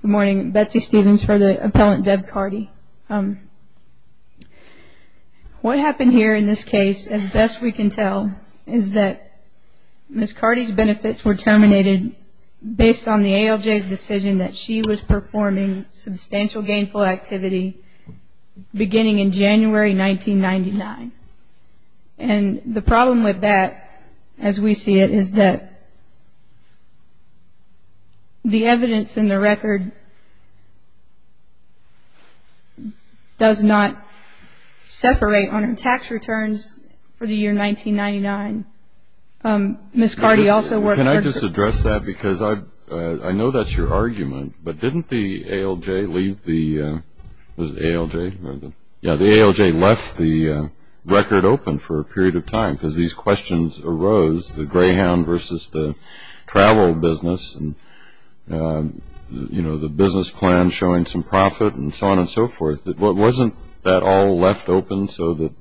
Good morning, Betsy Stevens for the Appellant Deb Cardy. What happened here in this case, as best we can tell, is that Ms. Cardy's benefits were terminated based on the ALJ's decision that she was performing substantial gainful activity beginning in January 1999. And the problem with that, as we see it, is that the evidence in the record does not separate on her tax returns for the year 1999. Ms. Cardy also worked perfectly. Can I just address that? Because I know that's your argument, but didn't the ALJ leave the – was it ALJ? Yeah, the ALJ left the record open for a period of time because these questions arose, the greyhound versus the travel business and, you know, the business plan showing some profit and so on and so forth. Wasn't that all left open so that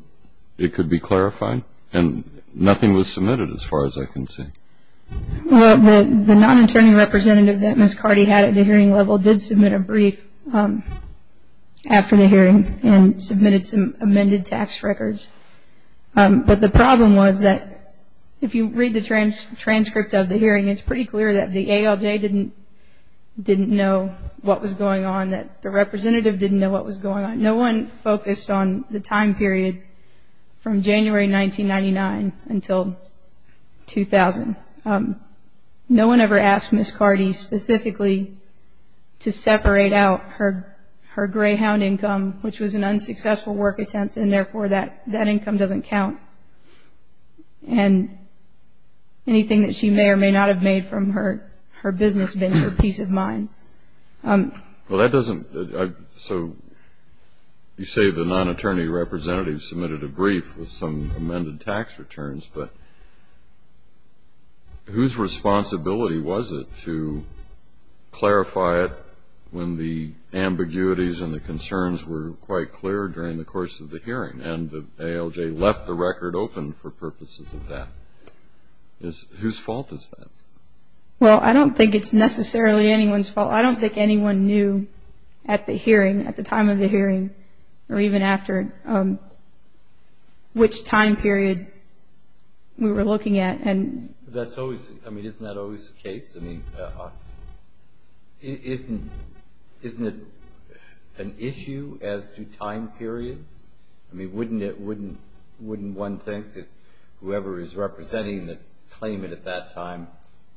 it could be clarified? And nothing was submitted as far as I can see. Well, the non-interning representative that Ms. Cardy had at the hearing level did submit a brief after the hearing and submitted some amended tax records. But the problem was that if you read the transcript of the hearing, it's pretty clear that the ALJ didn't know what was going on, that the representative didn't know what was going on. No one focused on the time period from January 1999 until 2000. No one ever asked Ms. Cardy specifically to separate out her greyhound income, which was an unsuccessful work attempt and, therefore, that income doesn't count, and anything that she may or may not have made from her business being her peace of mind. Well, that doesn't – so you say the non-attorney representative submitted a brief with some amended tax returns, but whose responsibility was it to clarify it when the ambiguities and the concerns were quite clear during the course of the hearing and the ALJ left the record open for purposes of that? Whose fault is that? Well, I don't think it's necessarily anyone's fault. Well, I don't think anyone knew at the hearing, at the time of the hearing, or even after, which time period we were looking at. That's always – I mean, isn't that always the case? I mean, isn't it an issue as to time periods? I mean, wouldn't one think that whoever is representing the claimant at that time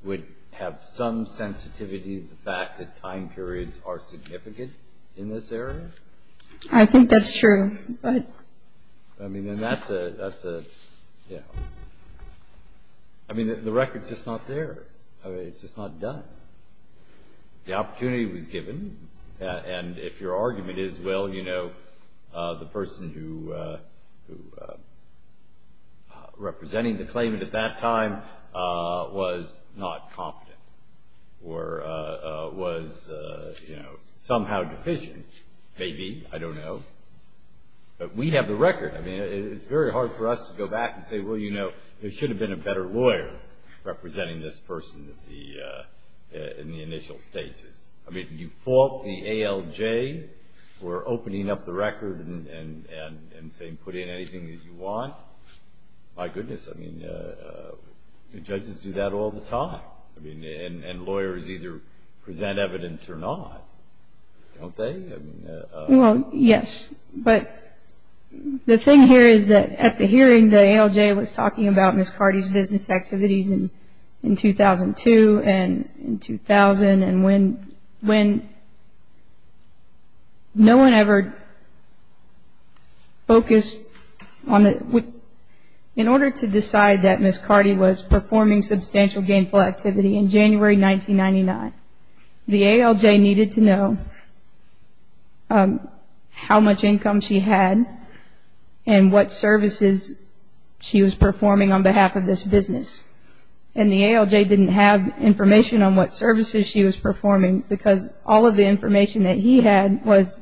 would have some sensitivity to the fact that time periods are significant in this area? I think that's true. I mean, then that's a – I mean, the record's just not there. It's just not done. The opportunity was given, and if your argument is, well, you know, the person who – representing the claimant at that time was not competent or was, you know, somehow deficient, maybe, I don't know. But we have the record. I mean, it's very hard for us to go back and say, well, you know, there should have been a better lawyer representing this person in the initial stages. I mean, you fault the ALJ for opening up the record and saying put in anything that you want. My goodness, I mean, judges do that all the time. I mean, and lawyers either present evidence or not, don't they? Well, yes, but the thing here is that at the hearing, the ALJ was talking about Ms. Carty's business activities in 2002 and in 2000, and when no one ever focused on the – in order to decide that Ms. Carty was performing substantial gainful activity in January 1999, the ALJ needed to know how much income she had and what services she was performing on behalf of this business. And the ALJ didn't have information on what services she was performing because all of the information that he had was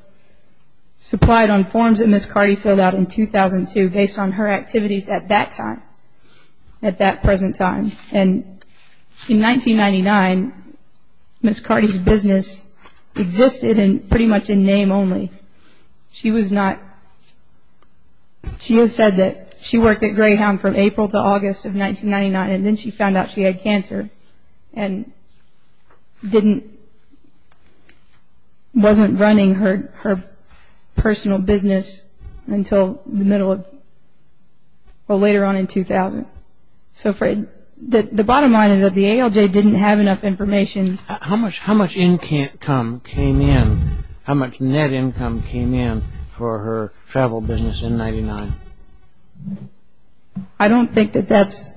supplied on forms that Ms. Carty filled out in 2002 based on her activities at that time, at that present time. And in 1999, Ms. Carty's business existed pretty much in name only. She was not – she has said that she worked at Greyhound from April to August of 1999, and then she found out she had cancer and didn't – wasn't running her personal business until the middle of – well, later on in 2000. So the bottom line is that the ALJ didn't have enough information. How much income came in – how much net income came in for her travel business in 1999? I don't think that that's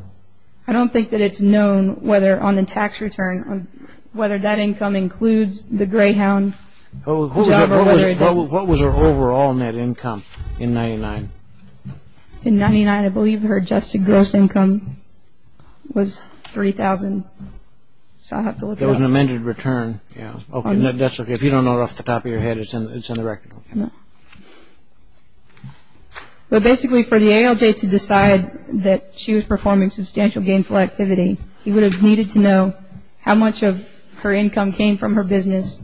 – I don't think that it's known whether – on the tax return – whether that income includes the Greyhound job or whether it doesn't. What was her overall net income in 1999? In 1999, I believe her adjusted gross income was $3,000. So I'll have to look it up. There was an amended return, yeah. Okay, that's okay. If you don't know it off the top of your head, it's in the record. No. Well, basically, for the ALJ to decide that she was performing substantial gainful activity, he would have needed to know how much of her income came from her business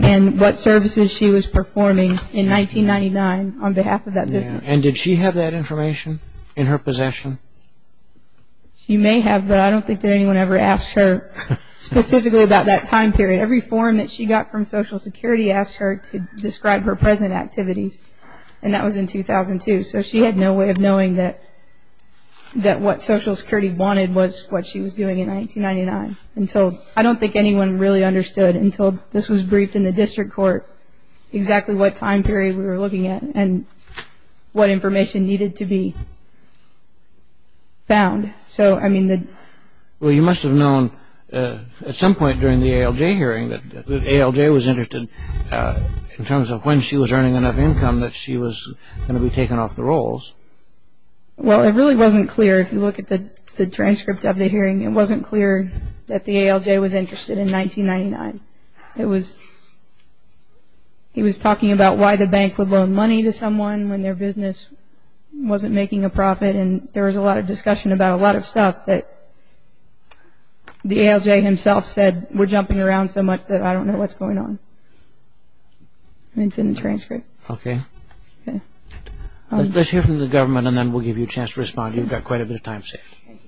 and what services she was performing in 1999 on behalf of that business. And did she have that information in her possession? She may have, but I don't think that anyone ever asked her specifically about that time period. Every form that she got from Social Security asked her to describe her present activities, and that was in 2002. So she had no way of knowing that what Social Security wanted was what she was doing in 1999 until – I don't think anyone really understood until this was briefed in the district court exactly what time period we were looking at and what information needed to be found. So, I mean, the – Well, you must have known at some point during the ALJ hearing that the ALJ was interested in terms of when she was earning enough income that she was going to be taken off the rolls. Well, it really wasn't clear. If you look at the transcript of the hearing, it wasn't clear that the ALJ was interested in 1999. It was – he was talking about why the bank would loan money to someone when their business wasn't making a profit, and there was a lot of discussion about a lot of stuff that the ALJ himself said were jumping around so much that I don't know what's going on. It's in the transcript. Okay. Okay. Well, you've got quite a bit of time saved. Thank you.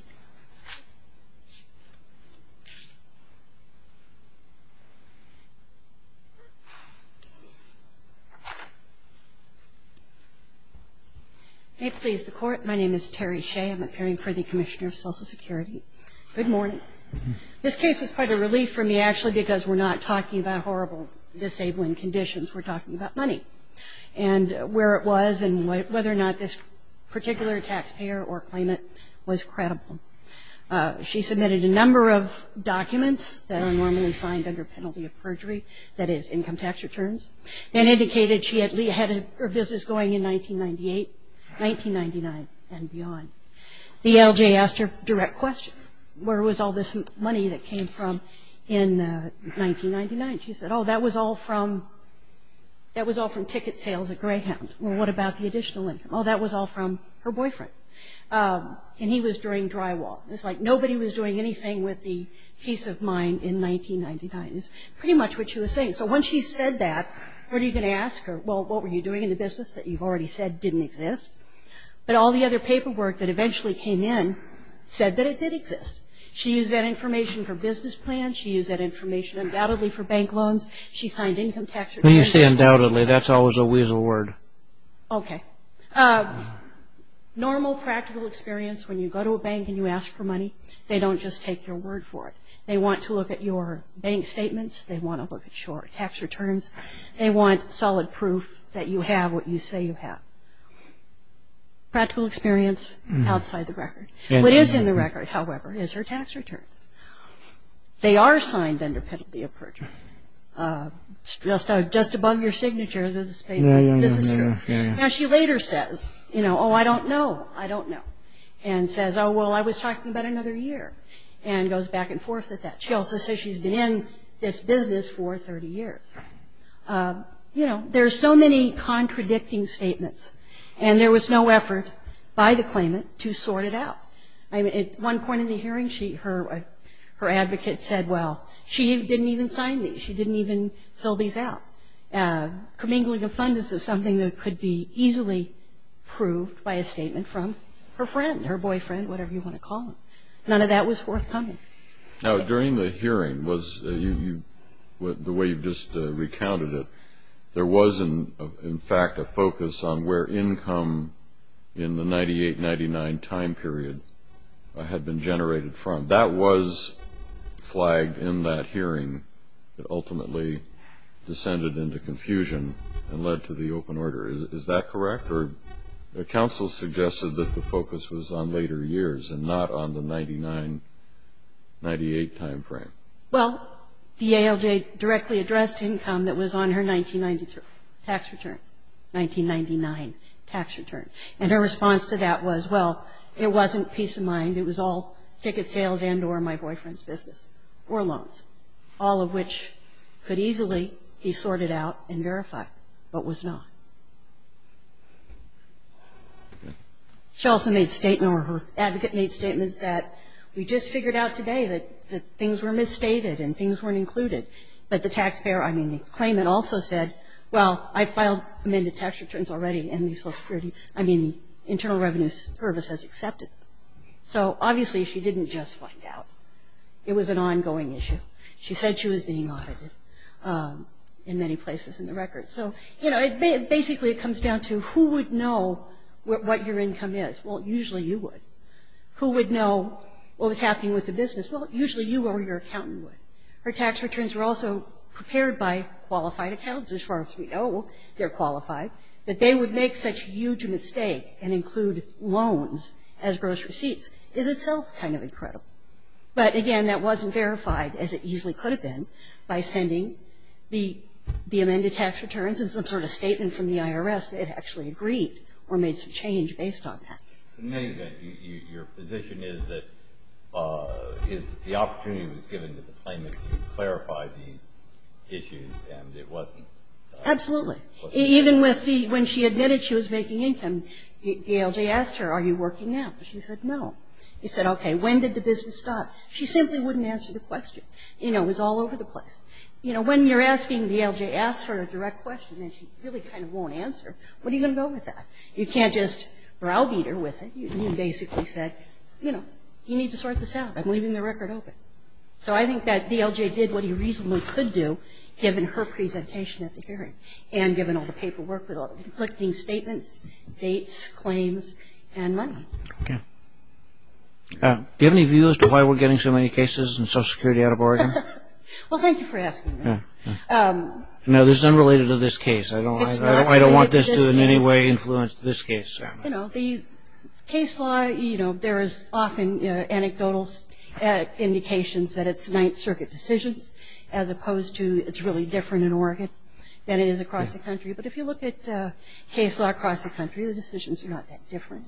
May it please the Court, my name is Terry Shea. I'm appearing for the Commissioner of Social Security. Good morning. This case is quite a relief for me actually because we're not talking about horrible disabling conditions. We're talking about money and where it was and whether or not this particular taxpayer or claimant was credible. She submitted a number of documents that are normally signed under penalty of perjury, that is income tax returns, and indicated she had her business going in 1998, 1999, and beyond. The ALJ asked her direct questions. Where was all this money that came from in 1999? She said, oh, that was all from ticket sales at Greyhound. Well, what about the additional income? Oh, that was all from her boyfriend. And he was during drywall. It's like nobody was doing anything with the peace of mind in 1999. It's pretty much what she was saying. So when she said that, what are you going to ask her? Well, what were you doing in the business that you've already said didn't exist? But all the other paperwork that eventually came in said that it did exist. She used that information for business plans. She used that information undoubtedly for bank loans. She signed income tax returns. When you say undoubtedly, that's always a weasel word. Okay. Normal practical experience when you go to a bank and you ask for money, they don't just take your word for it. They want to look at your bank statements. They want to look at your tax returns. They want solid proof that you have what you say you have. Practical experience outside the record. What is in the record, however, is her tax returns. They are signed under penalty of perjury. Just above your signature. Yeah, yeah, yeah. Now she later says, you know, oh, I don't know. I don't know. And says, oh, well, I was talking about another year, and goes back and forth with that. She also says she's been in this business for 30 years. You know, there are so many contradicting statements, and there was no effort by the claimant to sort it out. At one point in the hearing, her advocate said, well, she didn't even sign these. She didn't even fill these out. Commingling of funds is something that could be easily proved by a statement from her friend, her boyfriend, whatever you want to call them. None of that was forthcoming. Now, during the hearing, the way you just recounted it, there was, in fact, a focus on where income in the 98-99 time period had been generated from. That was flagged in that hearing. It ultimately descended into confusion and led to the open order. Is that correct? Or counsel suggested that the focus was on later years and not on the 99-98 time frame. Well, the ALJ directly addressed income that was on her 1992 tax return, 1999 tax return. And her response to that was, well, it wasn't peace of mind. It was all ticket sales and or my boyfriend's business or loans, all of which could easily be sorted out and verified, but was not. She also made statements, or her advocate made statements, that we just figured out today that things were misstated and things weren't included. But the taxpayer, I mean, the claimant also said, well, I filed amended tax returns already in the Social Security. I mean, Internal Revenue Service has accepted them. So obviously she didn't just find out. It was an ongoing issue. She said she was being audited in many places in the record. So, you know, basically it comes down to who would know what your income is. Well, usually you would. Who would know what was happening with the business? Well, usually you or your accountant would. Her tax returns were also prepared by qualified accounts, as far as we know. They're qualified. That they would make such a huge mistake and include loans as gross receipts is itself kind of incredible. But, again, that wasn't verified, as it easily could have been, by sending the amended tax returns and some sort of statement from the IRS that it actually agreed or made some change based on that. In any event, your position is that the opportunity was given to the claimant to clarify these issues and it wasn't? Absolutely. Even when she admitted she was making income, DLJ asked her, are you working now? She said no. He said, okay, when did the business stop? She simply wouldn't answer the question. You know, it was all over the place. You know, when you're asking, DLJ asks her a direct question and she really kind of won't answer. What are you going to go with that? You can't just browbeat her with it. You basically said, you know, you need to sort this out. I'm leaving the record open. So I think that DLJ did what he reasonably could do, given her presentation at the hearing and given all the paperwork with all the conflicting statements, dates, claims, and money. Okay. Do you have any views as to why we're getting so many cases and Social Security out of Oregon? Well, thank you for asking. No, this is unrelated to this case. I don't want this to in any way influence this case. You know, the case law, you know, there is often anecdotal indications that it's Ninth Circuit decisions as opposed to it's really different in Oregon than it is across the country. But if you look at case law across the country, the decisions are not that different.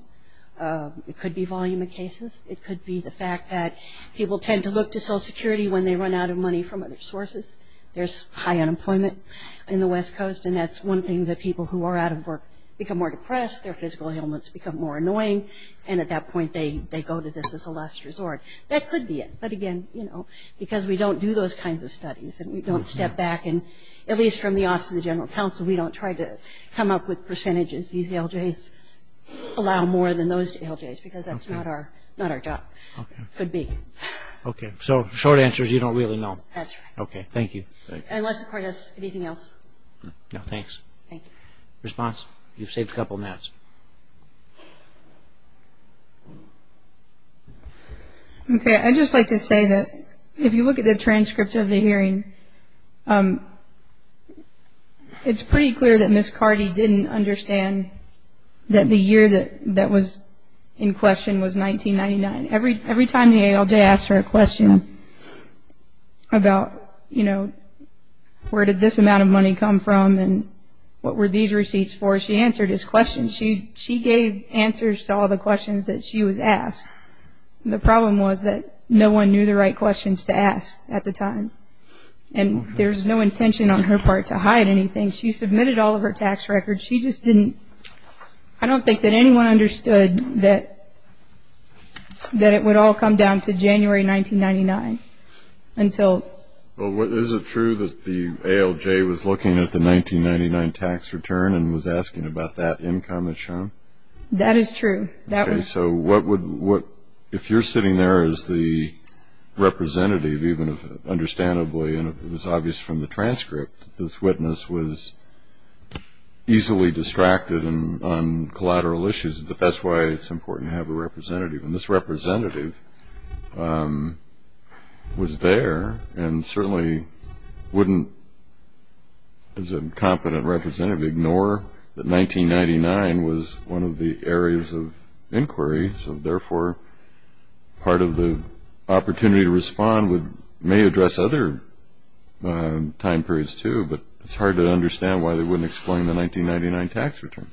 It could be volume of cases. It could be the fact that people tend to look to Social Security when they run out of money from other sources. There's high unemployment in the West Coast, and that's one thing that people who are out of work become more depressed. Their physical ailments become more annoying. And at that point, they go to this as a last resort. That could be it. But again, you know, because we don't do those kinds of studies and we don't step back. And at least from the Office of the General Counsel, we don't try to come up with percentages. These LJs allow more than those LJs because that's not our job. Okay. Could be. Okay. So short answer is you don't really know. That's right. Okay. Thank you. Unless Cardi has anything else. No, thanks. Thank you. Response? You've saved a couple minutes. Okay. I'd just like to say that if you look at the transcript of the hearing, it's pretty clear that Ms. Cardi didn't understand that the year that was in question was 1999. Every time the ALJ asked her a question about, you know, where did this amount of money come from and what were these receipts for, she answered his questions. She gave answers to all the questions that she was asked. The problem was that no one knew the right questions to ask at the time. And there's no intention on her part to hide anything. She submitted all of her tax records. I don't think that anyone understood that it would all come down to January 1999 until. Well, is it true that the ALJ was looking at the 1999 tax return and was asking about that income that's shown? That is true. Okay. So if you're sitting there as the representative, even if understandably, and it was obvious from the transcript, this witness was easily distracted on collateral issues, but that's why it's important to have a representative. And this representative was there and certainly wouldn't, as a competent representative, ignore that 1999 was one of the areas of inquiry. So, therefore, part of the opportunity to respond may address other time periods too, but it's hard to understand why they wouldn't explain the 1999 tax return.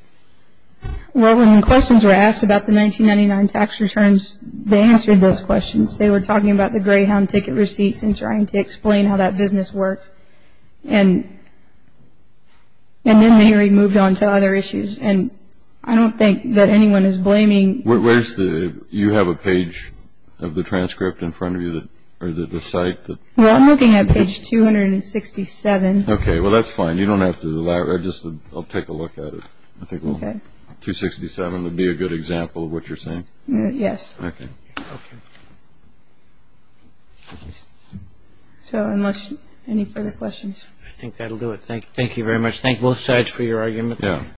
Well, when questions were asked about the 1999 tax returns, they answered those questions. They were talking about the Greyhound ticket receipts and trying to explain how that business worked. And then they moved on to other issues, and I don't think that anyone is blaming. You have a page of the transcript in front of you, or the site? Well, I'm looking at page 267. Okay. Well, that's fine. You don't have to elaborate. I'll just take a look at it. I think 267 would be a good example of what you're saying. Yes. Okay. So, unless any further questions. I think that'll do it. Thank you very much. Thank both sides for your argument. Yeah.